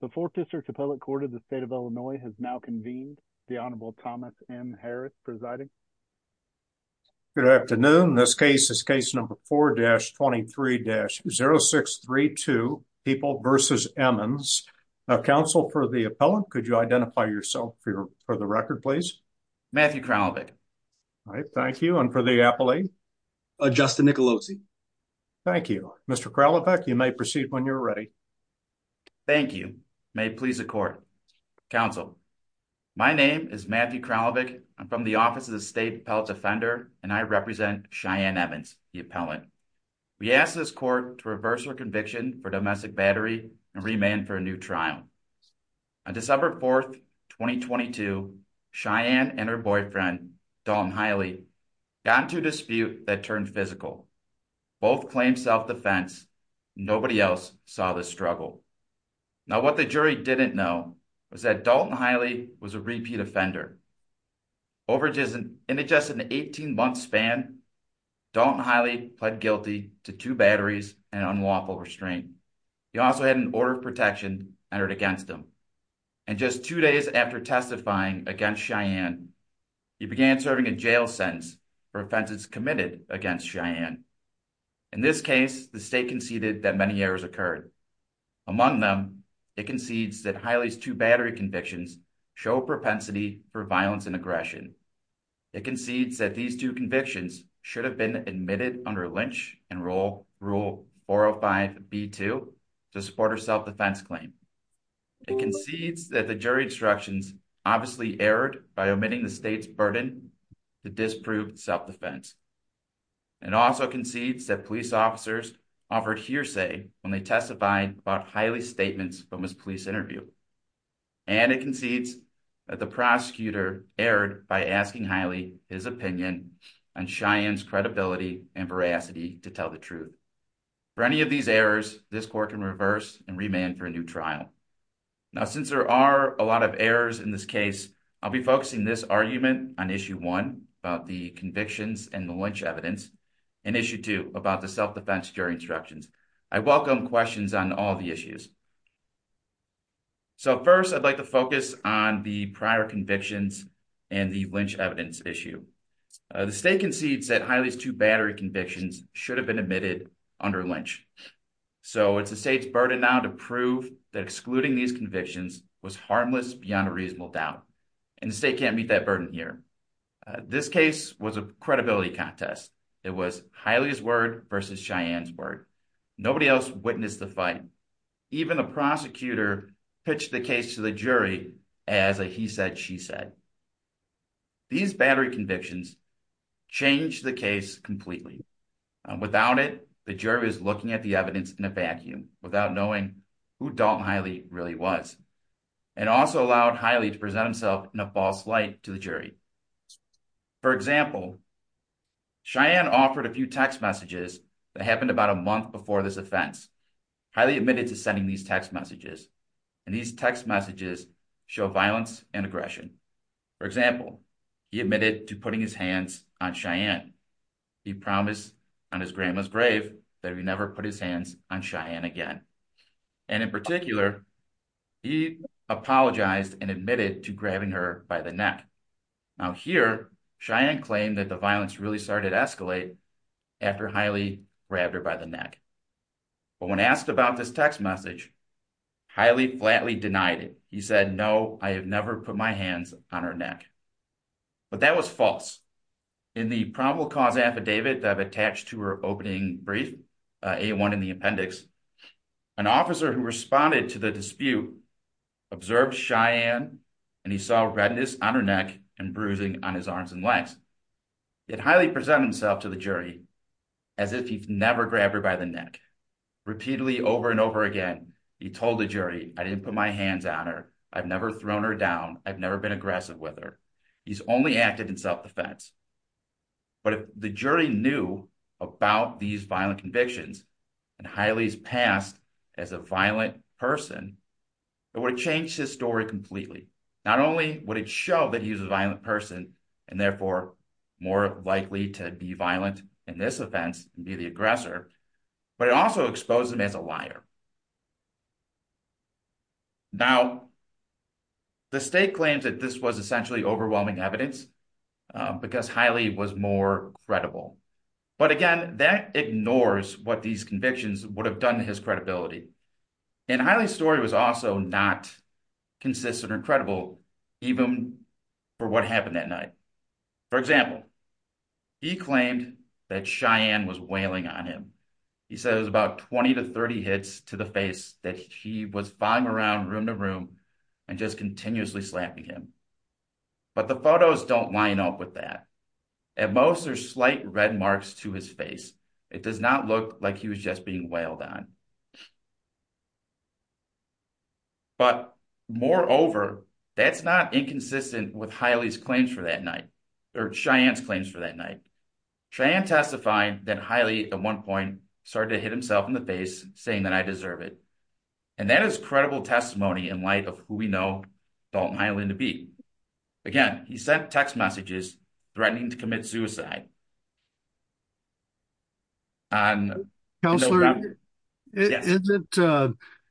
The Fourth District's Appellate Court of the State of Illinois has now convened. The Honorable Thomas M. Harris presiding. Good afternoon. This case is case number 4-23-0632, People v. Emmons. Counsel for the appellant, could you identify yourself for the record, please? Matthew Kralovec. All right, thank you. And for the appellee? Justin Nicolosi. Thank you. Mr. Kralovec, you may proceed when you're ready. Thank you. May it please the court. Counsel, my name is Matthew Kralovec. I'm from the Office of the State Appellate Defender, and I represent Cheyenne Emmons, the appellant. We ask this court to reverse her conviction for domestic battery and remand for a new trial. On December 4, 2022, Cheyenne and her boyfriend, Dalton Hiley, got into a dispute that turned physical. Both claimed self-defense. Nobody else saw this struggle. Now, what the jury didn't know was that Dalton Hiley was a repeat offender. Over just an 18-month span, Dalton Hiley pled guilty to two batteries and unlawful restraint. He also had an order of protection entered against him. And just two days after testifying against Cheyenne, he began serving a jail sentence for offenses committed against Cheyenne. In this case, the state conceded that many errors occurred. Among them, it concedes that Hiley's two battery convictions show a propensity for violence and aggression. It concedes that these two convictions should have been admitted under Lynch and Rule 405b2 to support her self-defense claim. It concedes that the jury instructions obviously erred by omitting the state's burden to disprove self-defense. It also concedes that police officers offered hearsay when they testified about Hiley's statements from his police interview. And it concedes that the prosecutor erred by asking Hiley his opinion on Cheyenne's credibility and veracity to tell the truth. For any of these errors, this court can reverse and remand for a new trial. Now, since there are a lot of errors in this case, I'll be focusing this argument on issue one about the convictions and the Lynch evidence and issue two about the self-defense jury instructions. I welcome questions on all the issues. So first, I'd like to focus on the prior convictions and the Lynch evidence issue. The state concedes that Hiley's two battery convictions should have been admitted under Lynch. So it's the state's burden now to prove that excluding these convictions was harmless beyond a reasonable doubt. And the state can't meet that burden here. This case was a credibility contest. It was Hiley's word versus Cheyenne's word. Nobody else witnessed the fight. Even the prosecutor pitched the case to the jury as a he said, she said. These battery convictions changed the case completely. Without it, the jury was looking at the evidence in a vacuum, without knowing who Dalton Hiley really was. It also allowed Hiley to present himself in a false light to the jury. For example, Cheyenne offered a few text messages that happened about a month before this offense. Hiley admitted to sending these text messages. And these text messages show violence and aggression. For example, he admitted to putting his hands on Cheyenne. He promised on his grandma's grave that he never put his hands on Cheyenne again. And in particular, he apologized and admitted to grabbing her by the neck. Now here, Cheyenne claimed that the violence really started to escalate after Hiley grabbed her by the neck. But when asked about this text message, Hiley flatly denied it. He said, no, I have never put my hands on her neck. But that was false. In the probable cause affidavit that I've attached to her opening brief, A1 in the appendix, an officer who responded to the dispute observed Cheyenne and he saw redness on her neck and bruising on his arms and legs. It highly presented himself to the jury as if he'd never grabbed her by the neck. Repeatedly over and over again, he told the jury, I didn't put my hands on her. I've never thrown her down. I've never been aggressive with her. He's only acted in self-defense. But if the jury knew about these violent convictions and Hiley's past as a violent person, it would change his story completely. Not only would it show that he was a violent person and therefore more likely to be violent in this offense and be the aggressor, but it also exposed him as a liar. Now, the state claims that this was essentially overwhelming evidence because Hiley was more credible. But again, that ignores what these convictions would have done to his credibility. And Hiley's story was also not consistent or credible, even for what happened that night. For example, he claimed that Cheyenne was wailing on him. He said it was about 20 to 30 hits to the face that he was flying around room to room and just continuously slapping him. But the photos don't line up with that. At most, there's slight red marks to his face. It does not look like he was just being wailed on. But moreover, that's not inconsistent with Hiley's claims for that or Cheyenne's claims for that night. Cheyenne testified that Hiley at one point started to hit himself in the face saying that I deserve it. And that is credible testimony in light of who we know Dalton Hiley to be. Again, he sent text messages threatening to commit suicide. And counselor, is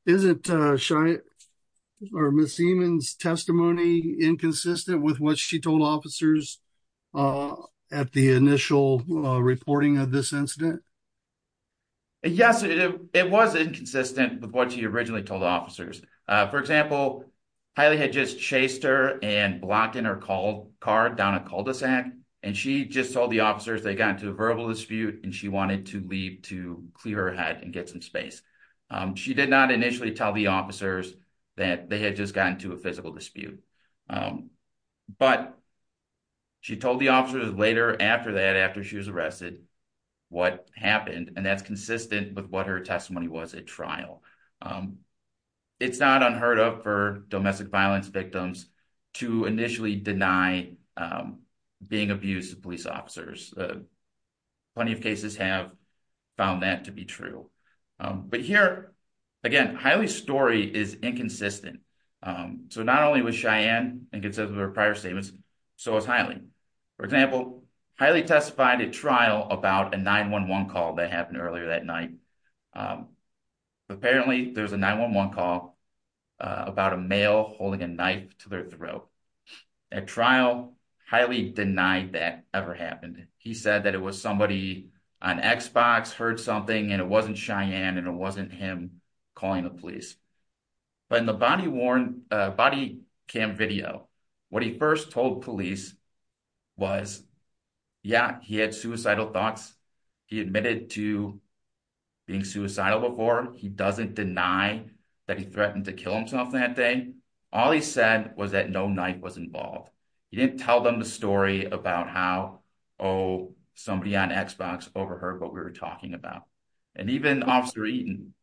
it shy or Miss Siemens testimony inconsistent with what she told officers at the initial reporting of this incident? Yes, it was inconsistent with what she originally told officers. For example, Hiley had just chased her and blocked in her car down a cul-de-sac. And she just told the verbal dispute and she wanted to leave to clear her head and get some space. She did not initially tell the officers that they had just gotten into a physical dispute. But she told the officers later after that after she was arrested, what happened and that's consistent with what her testimony was at trial. It's not unheard of for domestic violence victims to initially deny being abused by police officers. Plenty of cases have found that to be true. But here, again, Hiley's story is inconsistent. So not only was Cheyenne inconsistent with her prior statements, so was Hiley. For example, Hiley testified at trial about a 911 call that happened earlier that night. Apparently, there was a 911 call about a male holding a knife to throat. At trial, Hiley denied that ever happened. He said that it was somebody on Xbox heard something and it wasn't Cheyenne and it wasn't him calling the police. But in the body cam video, what he first told police was, yeah, he had suicidal thoughts. He admitted to being suicidal before. He doesn't deny that he threatened to kill himself that day. All he said was that no knife was involved. He didn't tell them the story about how, oh, somebody on Xbox overheard what we were talking about. And even Officer Eaton,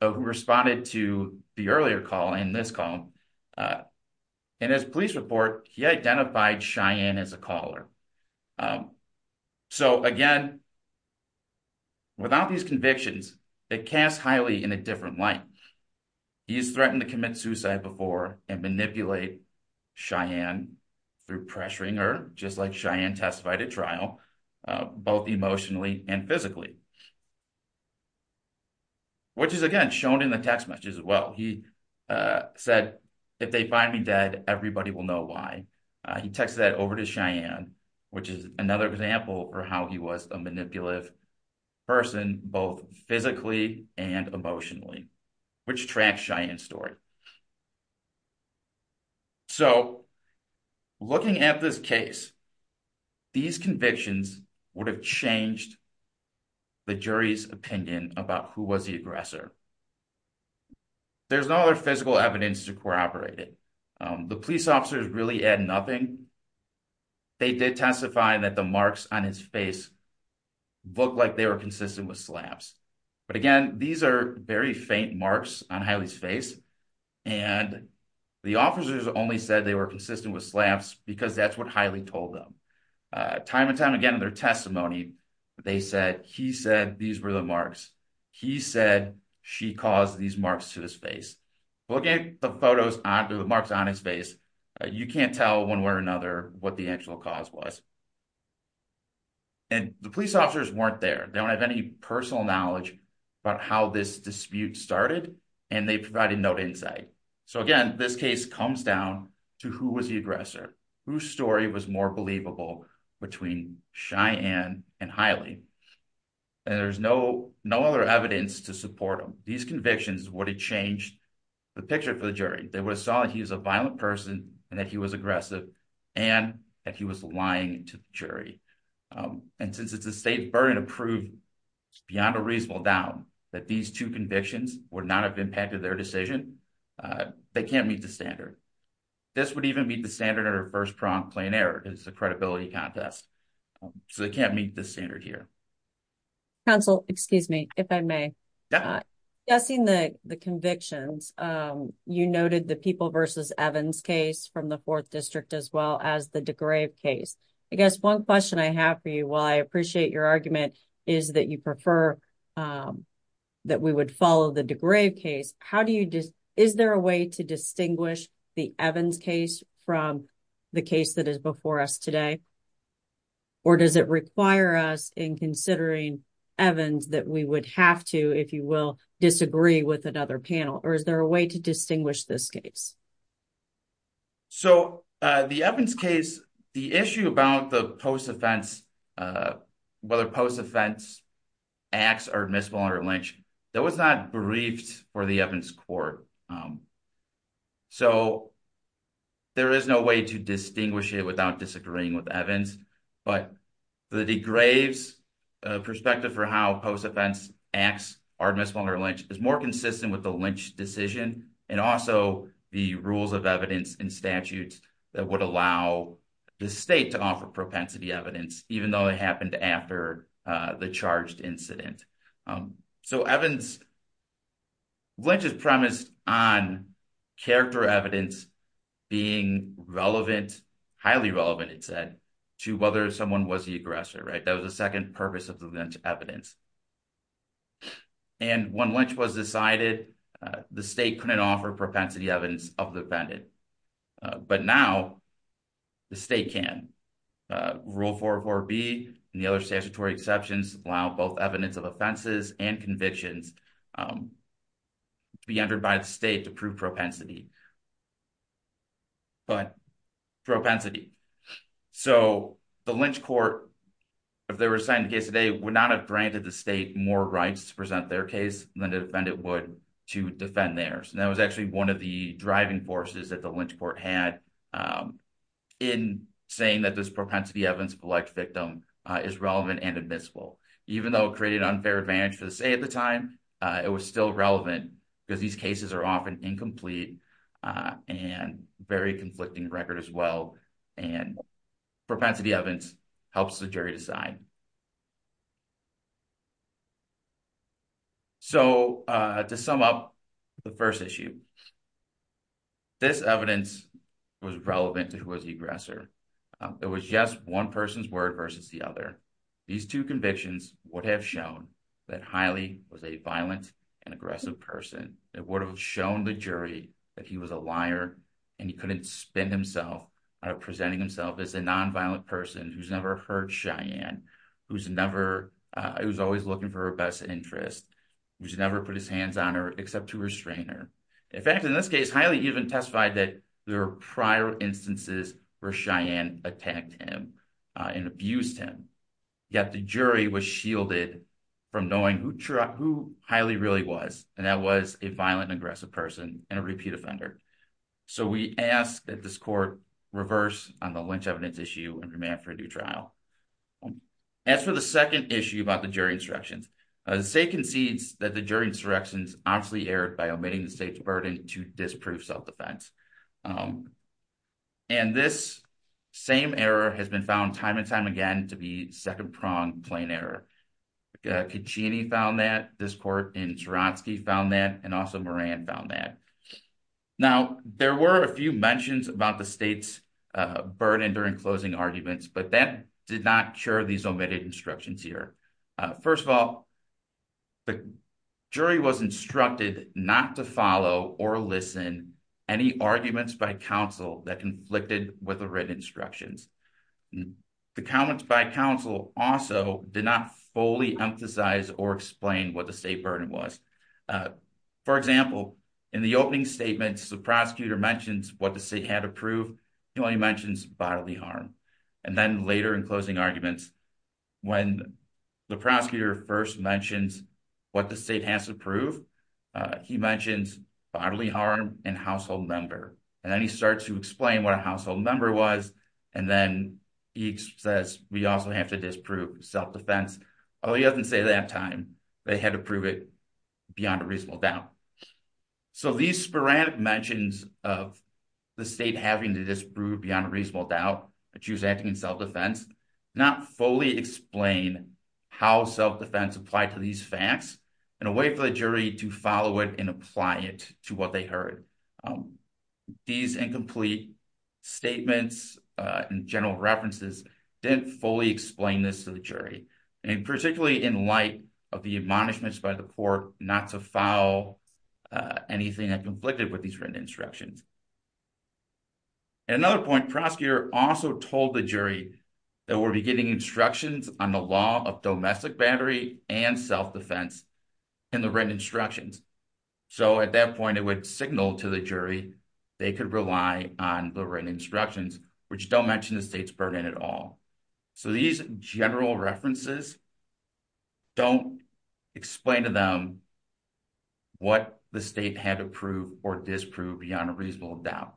who responded to the earlier call and this call, in his police report, he identified Cheyenne as a caller. So again, without these convictions, it casts Hiley in a different light. He's threatened to commit suicide before and manipulate Cheyenne through pressuring her, just like Cheyenne testified at trial, both emotionally and physically. Which is, again, shown in the text messages as well. He said, if they find me dead, everybody will know why. He texted that over to Cheyenne, which is another example for how he was a manipulative person, both physically and emotionally. So looking at this case, these convictions would have changed the jury's opinion about who was the aggressor. There's no other physical evidence to corroborate it. The police officers really add nothing. They did testify that the marks on his face look like they were consistent with slaps. But again, these are very faint marks on Hiley's face. And the officers only said they were consistent with slaps because that's what Hiley told them. Time and time again in their testimony, they said he said these were the marks. He said she caused these marks to his face. Looking at the photos, the marks on his face, you can't tell one way or another what the actual cause was. And the police officers weren't there. They don't have any personal knowledge about how this dispute started and they provided no insight. So again, this case comes down to who was the aggressor, whose story was more believable between Cheyenne and Hiley. And there's no other evidence to support them. These convictions would have changed the picture for the jury. They would have saw that he was a violent person and that he was beyond a reasonable doubt that these two convictions would not have impacted their decision. They can't meet the standard. This would even meet the standard of first-pronged plain error. It's a credibility contest. So they can't meet the standard here. Counsel, excuse me, if I may. Yes. Guessing the convictions, you noted the People v. Evans case from the fourth district as well as the DeGrave case. I guess one question I have for you, while I appreciate your argument, is that you prefer that we would follow the DeGrave case. Is there a way to distinguish the Evans case from the case that is before us today? Or does it require us in considering Evans that we would have to, if you will, disagree with another panel? Or is there a way to distinguish this case? So the Evans case, the issue about the post-offense, whether post-offense acts are admissible under Lynch, that was not briefed for the Evans court. So there is no way to distinguish it without disagreeing with Evans. But the DeGrave's perspective for how post-offense acts are admissible under Lynch is more consistent with the Lynch decision and also the rules of evidence and statutes that would allow the state to offer propensity evidence, even though it happened after the charged incident. So Lynch is premised on character evidence being relevant, highly relevant, it said, to whether someone was the aggressor. That was the second purpose of the Lynch evidence. And when Lynch was decided, the state couldn't offer propensity evidence of the defendant. But now the state can. Rule 404B and the other statutory exceptions allow both evidence of offenses and convictions to be entered by the state to prove propensity. But propensity. So the Lynch court, if they were assigned a case today, would not have granted the state more rights to present their case than the defendant would to defend theirs. And that was actually one of the driving forces that the Lynch court had in saying that this propensity evidence of the victim is relevant and admissible, even though it created unfair advantage for the state at the time, it was still relevant because these cases are often incomplete and very conflicting record as well. And propensity evidence helps the jury decide. So to sum up the first issue. This evidence was relevant to who was the aggressor. It was just one person's word versus the other. These two convictions would have shown that Hiley was a violent and aggressive person. It would have shown the jury that he was a liar and he couldn't spin himself out of presenting himself as a nonviolent person who's never hurt Cheyenne, who's never, who's always looking for her best interest, who's never put his hands on her except to restrain her. In fact, in this case, Hiley even testified that there were prior instances where Cheyenne attacked him and abused him. Yet the jury was shielded from knowing who Hiley really was. And that was a violent and aggressive person and a repeat offender. So we ask that this court reverse on the lynch evidence issue and demand for a new trial. As for the second issue about the jury insurrections, the state concedes that the jury insurrections obviously erred by omitting the state's burden to disprove self-defense. And this same error has been found time and time again to be second prong plain error. Cheyenne found that this court in Swarovski found that, and also Moran found that. Now, there were a few mentions about the state's burden during closing arguments, but that did not cure these omitted instructions here. First of all, the jury was instructed not to follow or listen any arguments by counsel that conflicted with the written instructions. And the comments by counsel also did not fully emphasize or explain what the state burden was. For example, in the opening statements, the prosecutor mentions what the state had to prove. He only mentions bodily harm. And then later in closing arguments, when the prosecutor first mentions what the state has to prove, he mentions bodily harm and household member. And then he says, we also have to disprove self-defense. Although he doesn't say that time, they had to prove it beyond a reasonable doubt. So these sporadic mentions of the state having to disprove beyond a reasonable doubt that she was acting in self-defense, not fully explain how self-defense applied to these facts in a way for the jury to follow it and apply it to what they heard. And these incomplete statements and general references didn't fully explain this to the jury, and particularly in light of the admonishments by the court not to follow anything that conflicted with these written instructions. At another point, prosecutor also told the jury that we'll be getting instructions on the law of domestic battery and self-defense in the written instructions. So at that point, it would signal to the jury, they could rely on the written instructions, which don't mention the state's burden at all. So these general references don't explain to them what the state had to prove or disprove beyond a reasonable doubt.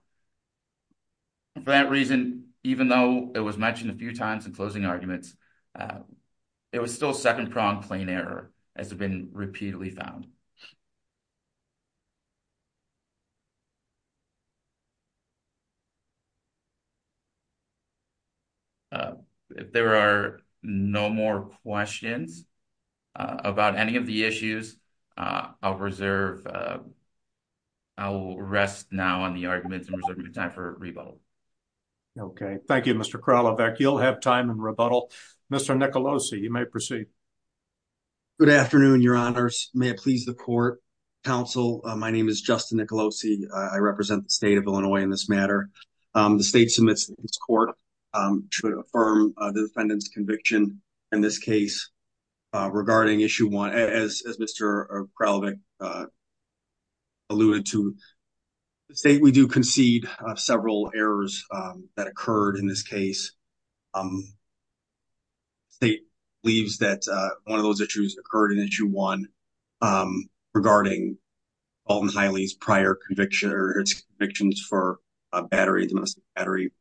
For that reason, even though it was mentioned a few times in closing arguments, it was still a second-pronged plain error, as have been repeatedly found. If there are no more questions about any of the issues, I'll reserve, I'll rest now on the arguments and reserve time for rebuttal. Okay. Thank you, Mr. Kralovec. You'll have time in rebuttal. Mr. Nicolosi, you may proceed. Good afternoon, your honors. May it please the court, counsel. My name is Justin Nicolosi. I represent the state of Illinois in this matter. The state submits its court to affirm the defendant's conviction in this case regarding issue one, as Mr. Kralovec alluded to. The state, we do concede several errors that occurred in this case. The state believes that one of those issues occurred in issue one regarding Alton Hiley's prior conviction or its convictions for battery, domestic battery.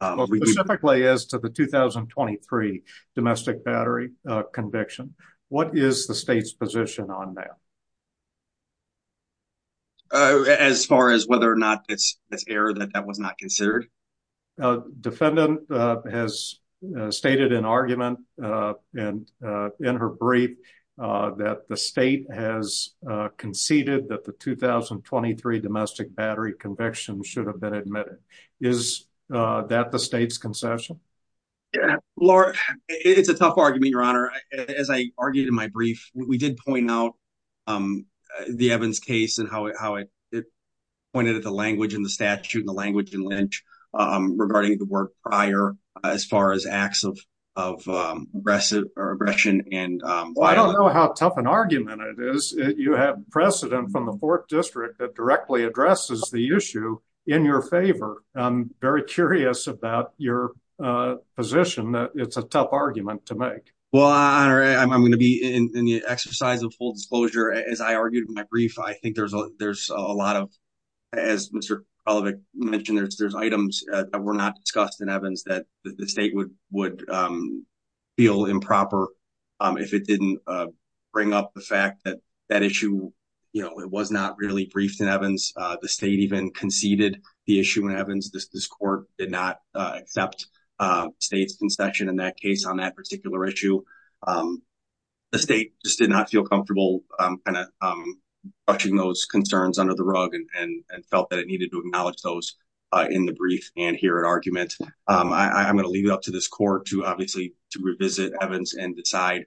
Specifically as to the 2023 domestic battery conviction, what is the state's position on that? As far as whether or not it's an error that that was not considered. Defendant has stated an argument in her brief that the state has conceded that the 2023 domestic battery conviction should have been admitted. Is that the state's concession? Laura, it's a tough argument, your honor. As I argued in my brief, we did point out the Evans case and how it pointed at the language in the statute and the language in Lynch regarding the work prior as far as acts of aggressive or aggression. And I don't know how tough an argument it is. You have precedent from the fourth district that directly addresses the issue in your favor. I'm very curious about your position that it's a disclosure. As I argued in my brief, I think there's a lot of, as Mr. Kolevich mentioned, there's items that were not discussed in Evans that the state would feel improper if it didn't bring up the fact that that issue, it was not really briefed in Evans. The state even conceded the issue in Evans. This court did not accept state's concession in that case on that particular issue. The state just did not feel comfortable brushing those concerns under the rug and felt that it needed to acknowledge those in the brief and hear an argument. I'm going to leave it up to this court to obviously to revisit Evans and decide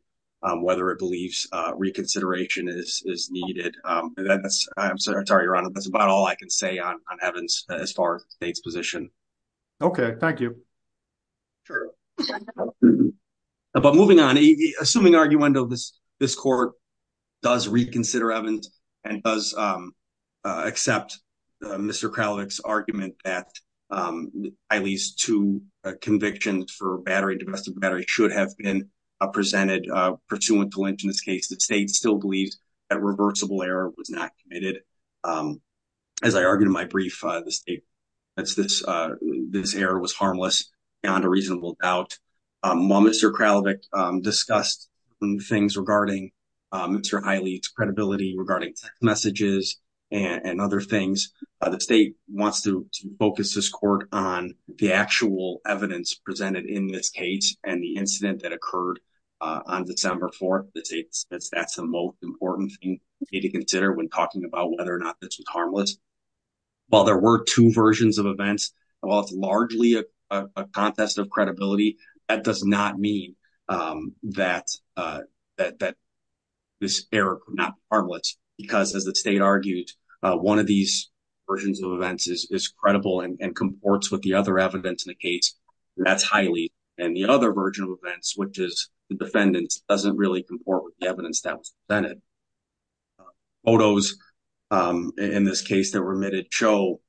whether it believes reconsideration is needed. I'm sorry, your honor, that's about all I can say on Evans as far as the state's position. Okay, thank you. Sure, but moving on, assuming arguendo, this court does reconsider Evans and does accept Mr. Kolevich's argument that at least two convictions for battery, domestic battery, should have been presented pursuant to Lynch in this case. The state still believes that reversible error was not committed. As I argued in my brief, this error was harmless beyond a reasonable doubt. While Mr. Kolevich discussed things regarding Mr. Hiley's credibility regarding text messages and other things, the state wants to focus this court on the actual evidence presented in this case and the incident that occurred on December 4th. That's the most important thing to consider when talking about whether or not this was harmless. While there were two versions of events, while it's largely a contest of credibility, that does not mean that this error was not harmless because as the state argued, one of these versions of events is credible and comports with the other evidence in the case. That's Hiley and the other version of events, which is the defendant doesn't really comport with the evidence that was presented. Photos in this case that were omitted show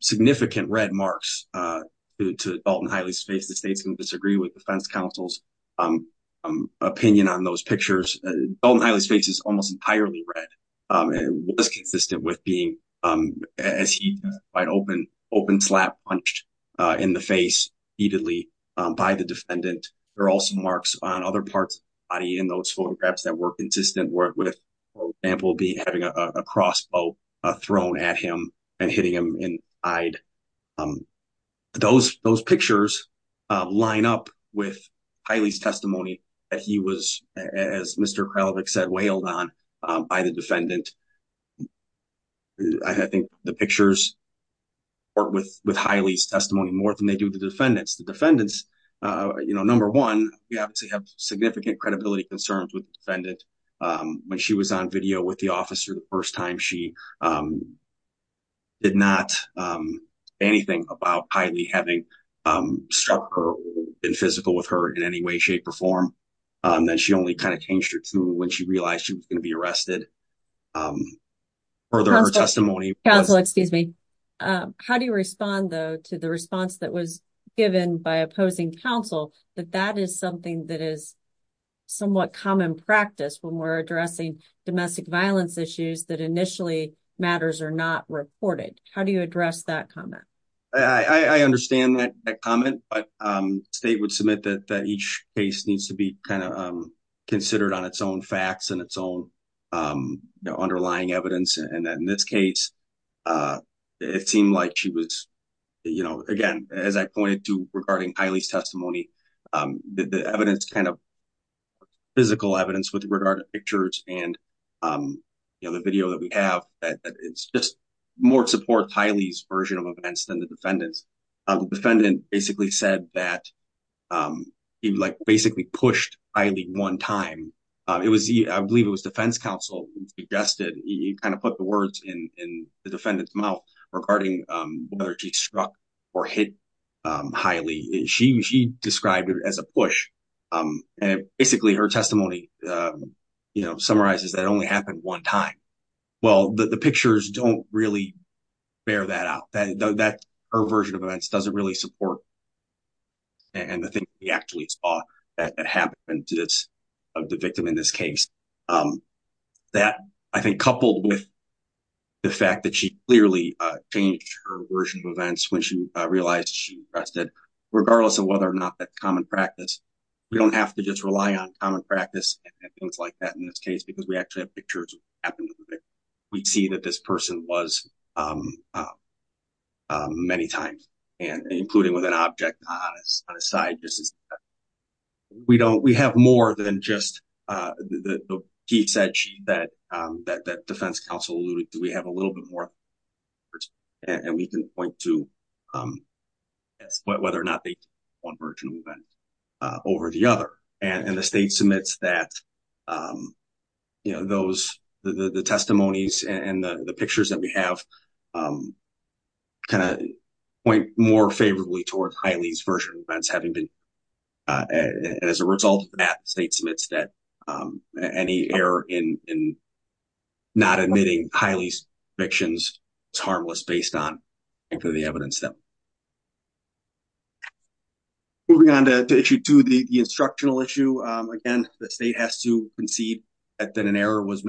significant red marks to Dalton Hiley's face. The state's going to disagree with defense counsel's opinion on those pictures. Dalton Hiley's face is almost entirely red. It was consistent with being as he was quite open, open slap punched in the face heatedly by the defendant. There are also on other parts of the body in those photographs that were consistent with, for example, having a crossbow thrown at him and hitting him in the eye. Those pictures line up with Hiley's testimony that he was, as Mr. Kralovic said, wailed on by the defendant. I think the pictures work with Hiley's testimony more than they do the defendants. The defendants, number one, you have to have significant credibility concerns with the defendant. When she was on video with the officer the first time, she did not say anything about Hiley having struck her in physical with her in any way, shape or form. Then she only changed her tune when she realized she was going to be arrested. Further, her testimony. Counsel, excuse me. How do you that that is something that is somewhat common practice when we're addressing domestic violence issues that initially matters are not reported? How do you address that comment? I understand that comment, but the state would submit that each case needs to be considered on its own facts and its own underlying evidence. In this case, it seemed like she was, you know, again, as I pointed to regarding Hiley's testimony, the evidence kind of physical evidence with regard to pictures and the video that we have, that it's just more support Hiley's version of events than the defendant's. The defendant basically said that he like basically pushed Hiley one time. It was, I believe it was defense counsel who suggested you kind of put the words in the defendant's mouth regarding whether she struck or hit Hiley. She described it as a push. And basically her testimony, you know, summarizes that only happened one time. Well, the pictures don't really bear that out that her version of events doesn't really support. And the thing we actually saw that happened of the victim in this case that I think coupled with the fact that she clearly changed her version of events when she realized she arrested, regardless of whether or not that common practice, we don't have to just rely on common practice and things like that in this case, because we actually have pictures. We'd see that this person was many times and including with an object on his side. We don't, we have more than just the piece that she, that defense counsel alluded to. We have a little bit more and we can point to whether or not they one version of event over the other. And the state submits that, you know, those, the testimonies and the favorably towards Hiley's version of events having been as a result of that state submits that any error in not admitting Hiley's convictions is harmless based on the evidence. Moving on to issue two, the instructional issue. Again, the state has to concede that an error was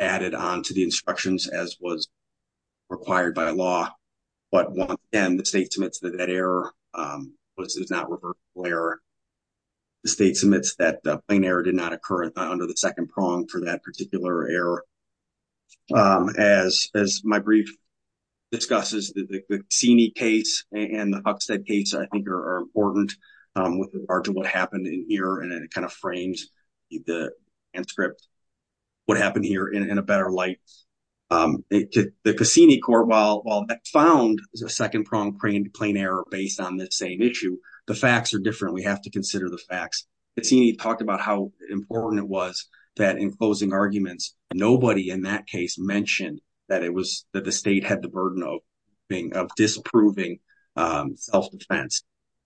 added on to the instructions as was required by law. But once again, the state submits that that error was, is not reversible error. The state submits that the plain error did not occur under the second prong for that particular error. As, as my brief discusses the Cassini case and the Huckstead case, I think are important with regard to what happened in here. And it kind of frames the end script, what happened here in a better light. The Cassini court, while that found a second prong plain error based on this same issue, the facts are different. We have to consider the facts. Cassini talked about how important it was that in closing arguments, nobody in that case mentioned that it was, that the state had the burden of being, of disapproving self-defense.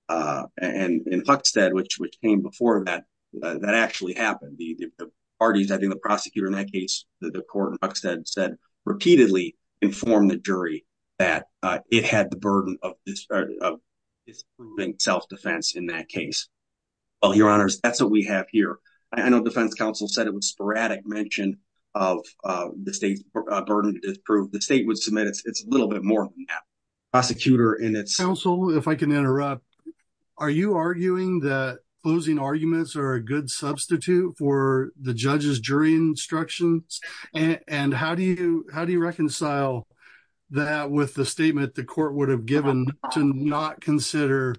And in Huckstead, which, which came before that, that actually happened. The parties, I think the prosecutor in that case, the court in Huckstead said repeatedly informed the jury that it had the burden of disproving self-defense in that case. Well, your honors, that's what we have here. I know defense counsel said it was sporadic mention of the state's burden to disprove. The are you arguing that closing arguments are a good substitute for the judge's jury instructions? And how do you, how do you reconcile that with the statement the court would have given to not consider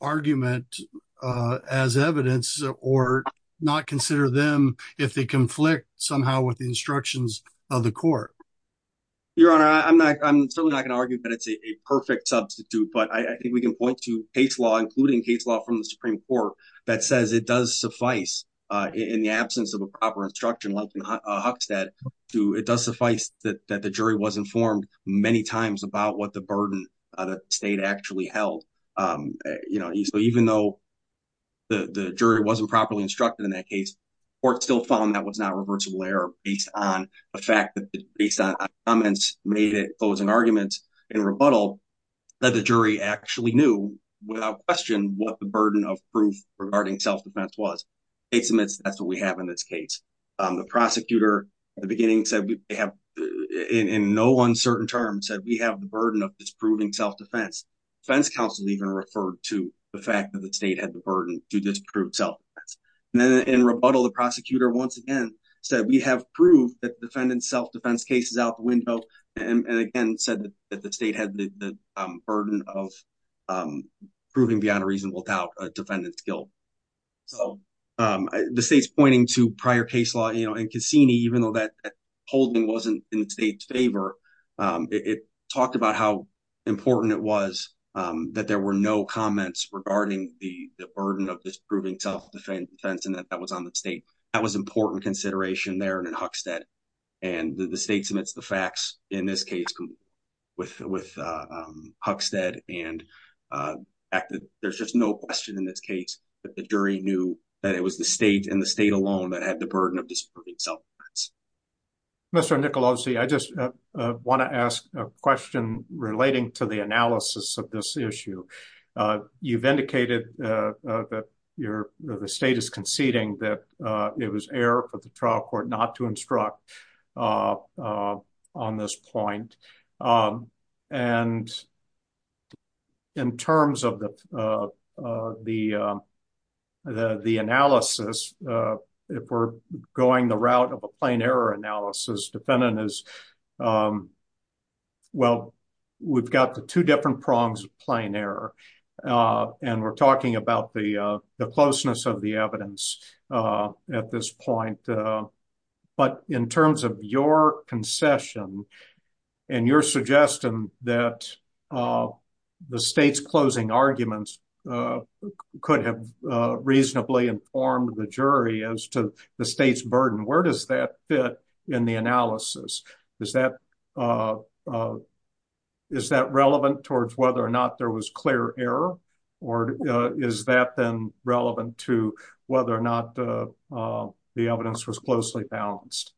argument as evidence or not consider them if they conflict somehow with the instructions of the court? Your honor, I'm not, I'm certainly not going to argue that it's a perfect substitute, but I think we can point to case law, including case law from the Supreme court that says it does suffice in the absence of a proper instruction like in Huckstead to, it does suffice that the jury was informed many times about what the burden of the state actually held. You know, even though the jury wasn't properly instructed in that case, court still found that was not reversible error based on the fact that based on comments made it closing arguments and rebuttal that the jury actually knew without question what the burden of proof regarding self-defense was. Case admits that's what we have in this case. The prosecutor at the beginning said we have in no uncertain terms said we have the burden of disproving self-defense. Defense counsel even referred to the fact that the state had the burden to disprove self-defense. And then in rebuttal, the prosecutor once again said we have proof that defendant's self-defense case is out the window and again said that the state had the burden of proving beyond a reasonable doubt a defendant's guilt. So the state's pointing to prior case law, you know, and Cassini, even though that holding wasn't in the state's favor it talked about how important it was that there were no comments regarding the burden of disproving self-defense and that that was on the state. That was important consideration there and in Huckstead and the state submits the facts in this case with Huckstead and there's just no question in this case that the jury knew that it was the state and the state alone that had the burden of disproving self-defense. Mr. Nicolosi, I just want to ask a question relating to the analysis of this issue. You've indicated that the state is conceding that it was error for the trial court not to instruct on this point. And in terms of the analysis, if we're going the route of a plain error analysis, defendant is, well, we've got the two different prongs of plain error and we're talking about the closeness of the evidence at this point. But in terms of your concession and your suggestion that the state's closing arguments could have reasonably informed the jury as to the state's is that relevant towards whether or not there was clear error or is that then relevant to whether or not the evidence was closely balanced?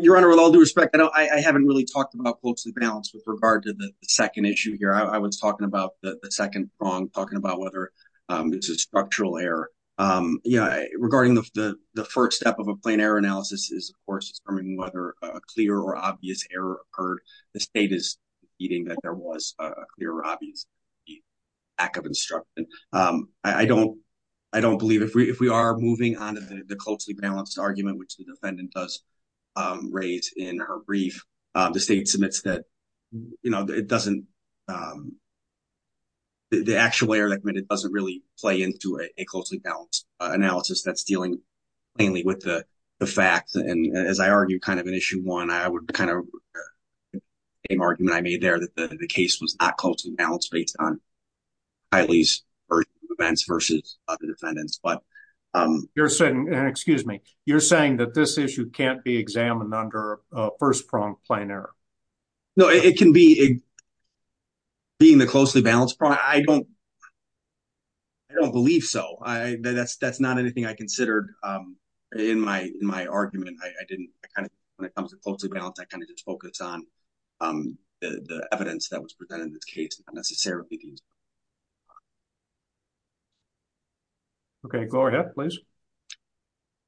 Your Honor, with all due respect, I haven't really talked about closely balanced with regard to the second issue here. I was talking about the second prong talking about whether it's a structural error. Regarding the first step of a plain error analysis is, of course, determining whether a clear or obvious error occurred. The state is conceding that there was a clear or obvious lack of instruction. I don't believe if we are moving on to the closely balanced argument, which the defendant does raise in her brief, the state submits that it doesn't, the actual error that committed doesn't really play into a closely balanced analysis that's dealing mainly with the facts. And as I argued kind of in issue one, I would kind of make the argument I made there that the case was not closely balanced based on Kylie's events versus other defendants. But you're saying, excuse me, you're saying that this issue can't be examined under a first prong plain error. No, it can be. Being the closely balanced prong, I don't believe so. That's not anything I considered in my argument. I didn't kind of, when it comes to closely balanced, I kind of just focus on the evidence that was presented in this case, not necessarily these. Okay, go ahead, please.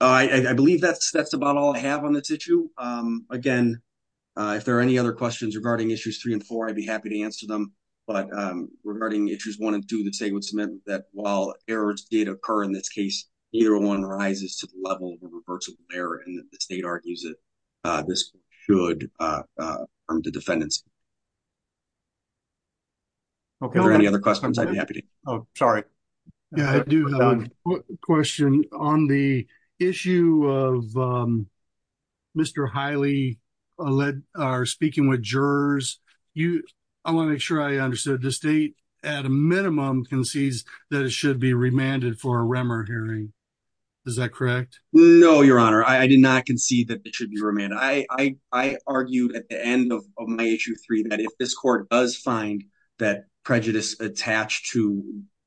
I believe that's about all I have on this issue. Again, if there are any other questions regarding issues three and four, I'd be happy to answer them. But regarding issues one and two, the state would submit that while errors did occur in this case, either one rises to the level of a reversible error and that the state argues that this should harm the defendants. Okay, are there any other questions? I'd be happy to. Oh, sorry. Yeah, I do have a question on the issue of Mr. Hiley speaking with jurors. I want to make sure I understood. The state at a minimum concedes that it should be remanded for a REMER hearing. Is that correct? No, your honor. I did not concede that it should be remanded. I argued at the end of my issue three that if this court does find that prejudice attached to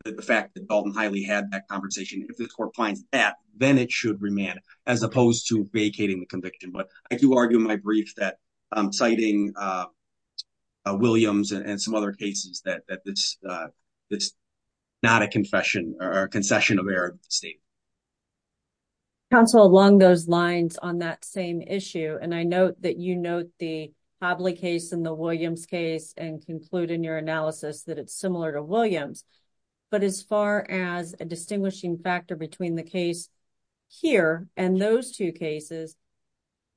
the fact that Dalton Hiley had that conversation, if this court finds that, then it should remand as opposed to vacating the conviction. But I do argue in my brief that I'm citing Williams and some other cases that it's not a confession or a concession of error of the state. Counsel, along those lines on that same issue, and I note that you note the case and conclude in your analysis that it's similar to Williams, but as far as a distinguishing factor between the case here and those two cases,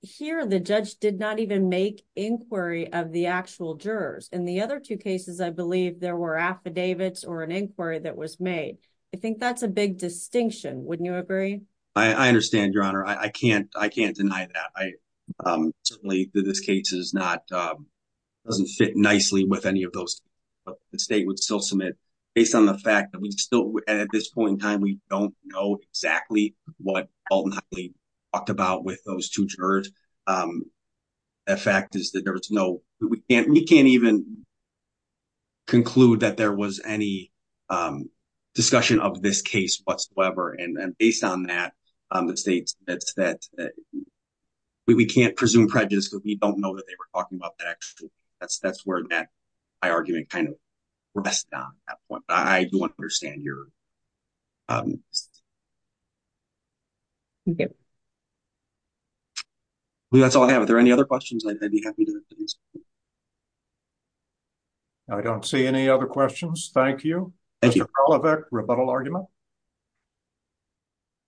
here the judge did not even make inquiry of the actual jurors. In the other two cases, I believe there were affidavits or an inquiry that was made. I think that's a big distinction. Wouldn't you agree? I understand, your honor. I can't deny that. Certainly, this case is not doesn't fit nicely with any of those, but the state would still submit based on the fact that we still, at this point in time, we don't know exactly what Dalton Hiley talked about with those two jurors. The fact is that there was no, we can't, we can't even conclude that there was any discussion of this case whatsoever. And based on that, the state said that we can't presume we don't know that they were talking about that. Actually, that's, that's where my argument kind of rests on that point. I do want to understand your, um, that's all I have. Are there any other questions? I'd be happy to. I don't see any other questions. Thank you. Thank you. Rebuttal argument.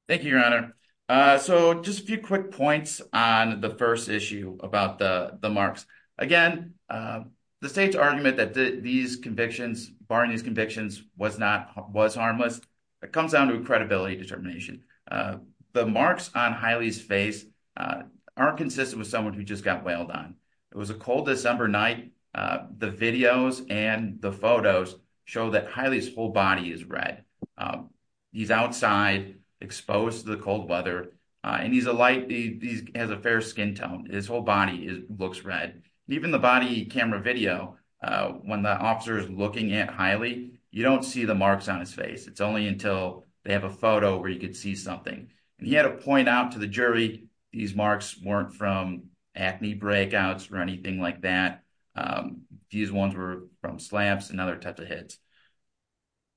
Thank you, your honor. Uh, so just a few quick points on the first issue about the, the marks again, um, the state's argument that these convictions barring these convictions was not, was harmless. It comes down to credibility determination. Uh, the marks on Hiley's face, aren't consistent with someone who just got whaled on. It was a cold December night. Uh, and the photos show that Hiley's whole body is red. Um, he's outside exposed to the cold weather. Uh, and he's a light, he has a fair skin tone. His whole body looks red. Even the body camera video, uh, when the officer is looking at Hiley, you don't see the marks on his face. It's only until they have a photo where you could see something. And he had to point out to the jury, these marks weren't from acne breakouts or anything like that. Um, these ones were from slaps and other types of hits.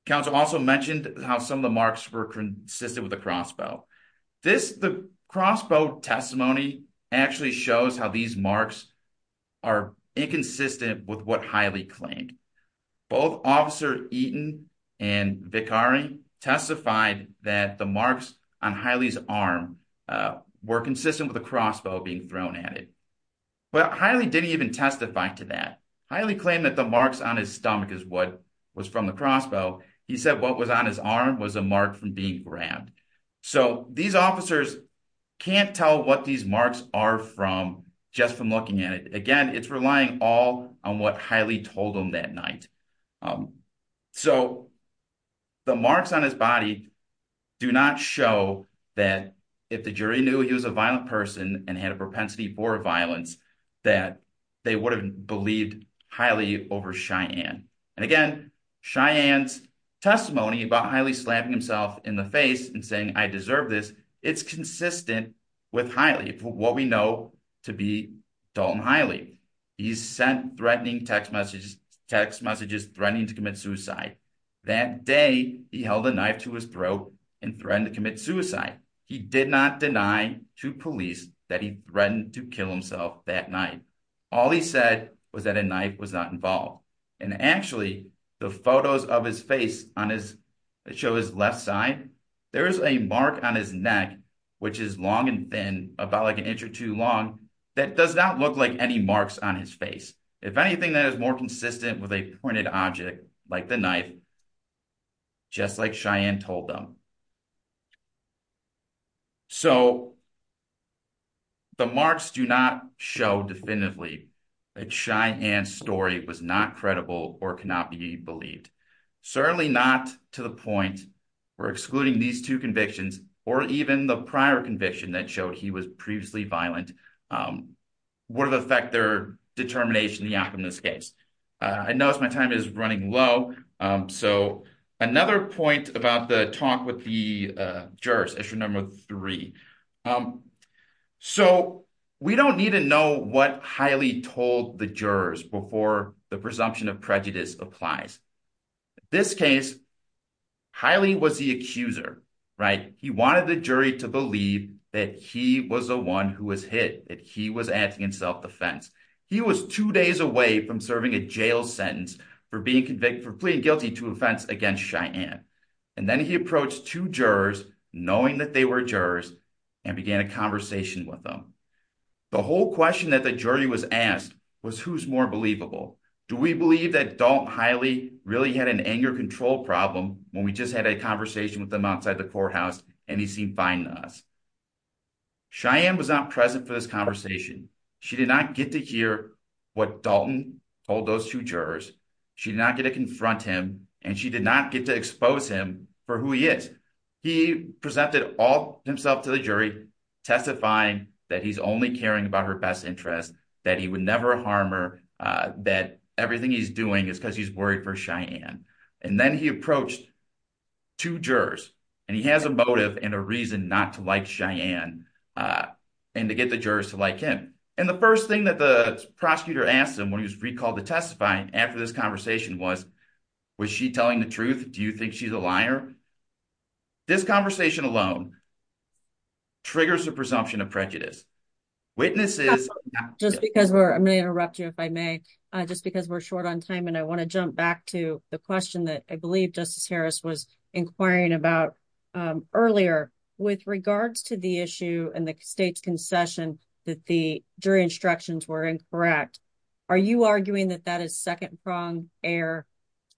Counsel also mentioned how some of the marks were consistent with a crossbow. This, the crossbow testimony actually shows how these marks are inconsistent with what Hiley claimed. Both officer Eaton and Vicari testified that the marks on Hiley's arm, uh, were consistent with the crossbow being thrown at it. But Hiley didn't even testify to that. Hiley claimed that the marks on his stomach is what was from the crossbow. He said what was on his arm was a mark from being grabbed. So these officers can't tell what these marks are from just from looking at it. Again, it's relying all on what Hiley told them that night. Um, so the marks on his body do not show that if the jury knew he was a violent person and had a propensity for violence, that they would have believed Hiley over Cheyenne. And again, Cheyenne's testimony about Hiley slapping himself in the face and saying, I deserve this. It's consistent with Hiley, what we know to be Dalton Hiley. He's sent threatening text messages, text messages, threatening to commit suicide that day. He held a knife to his throat and threatened to commit suicide. He did not deny to police that he threatened to kill himself that night. All he said was that a knife was not involved. And actually the photos of his face on his show, his left side, there is a mark on his neck, which is long and thin about like an inch or two long. That does not look like any marks on his face. If anything that is more consistent with a pointed object like the knife, just like Cheyenne told them. So the marks do not show definitively that Cheyenne's story was not credible or cannot be believed. Certainly not to the point where excluding these two convictions or even the would have affect their determination in this case. I noticed my time is running low. So another point about the talk with the jurors, issue number three. So we don't need to know what Hiley told the jurors before the presumption of prejudice applies. This case, Hiley was the accuser, right? He wanted the jury to believe that he was the one who was acting in self-defense. He was two days away from serving a jail sentence for being convicted for pleading guilty to offense against Cheyenne. And then he approached two jurors knowing that they were jurors and began a conversation with them. The whole question that the jury was asked was who's more believable? Do we believe that Dalton Hiley really had an anger control problem when we just had a conversation with them outside the courthouse and he seemed fine to us? Cheyenne was not present for this conversation. She did not get to hear what Dalton told those two jurors. She did not get to confront him and she did not get to expose him for who he is. He presented all himself to the jury testifying that he's only caring about her best interest, that he would never harm her, that everything he's doing is because he's worried for Cheyenne. And then he got the jurors to like him. And the first thing that the prosecutor asked him when he was recalled to testify after this conversation was, was she telling the truth? Do you think she's a liar? This conversation alone triggers the presumption of prejudice. Witnesses- Just because we're, I may interrupt you if I may, just because we're short on time and I want to jump back to the question that I believe Justice Harris was inquiring about earlier. With regards to the issue and the state's concession that the jury instructions were incorrect, are you arguing that that is second-pronged error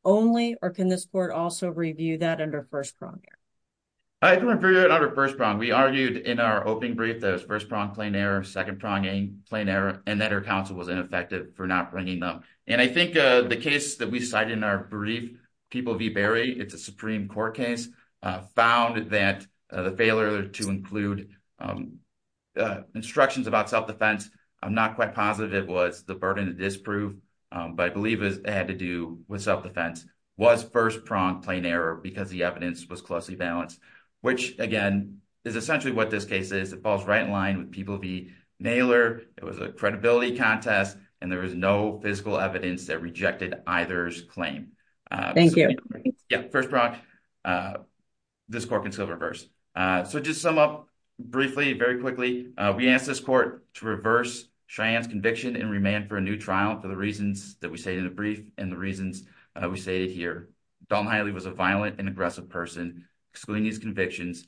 only or can this court also review that under first-pronged error? I can review it under first-pronged. We argued in our opening brief that it was first-pronged plain error, second-pronging plain error, and that her counsel was ineffective for not bringing them. And I think the case that we cited in our brief, People v. Berry, it's a Supreme Court case, found that the failure to include instructions about self-defense, I'm not quite positive it was the burden of disproof, but I believe it had to do with self-defense, was first-pronged plain error because the evidence was closely balanced, which again is essentially what this case is. It falls right in line with People v. Naylor. It was a credibility contest and there was no physical evidence that rejected either's claim. Thank you. Yeah, first-pronged, this court can still reverse. So just to sum up briefly, very quickly, we asked this court to reverse Cheyenne's conviction and remand for a new trial for the reasons that we say in the brief and the reasons we stated here. Dalton Hiley was a violent and aggressive person, excluding his convictions,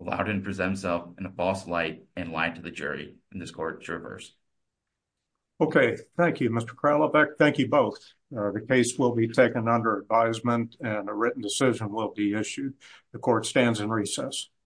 allowed him to present himself in a false light and lied to the jury, and this court reversed. Okay, thank you, Mr. Kralovec. Thank you both. The case will be taken under advisement and a written decision will be issued. The court stands in recess.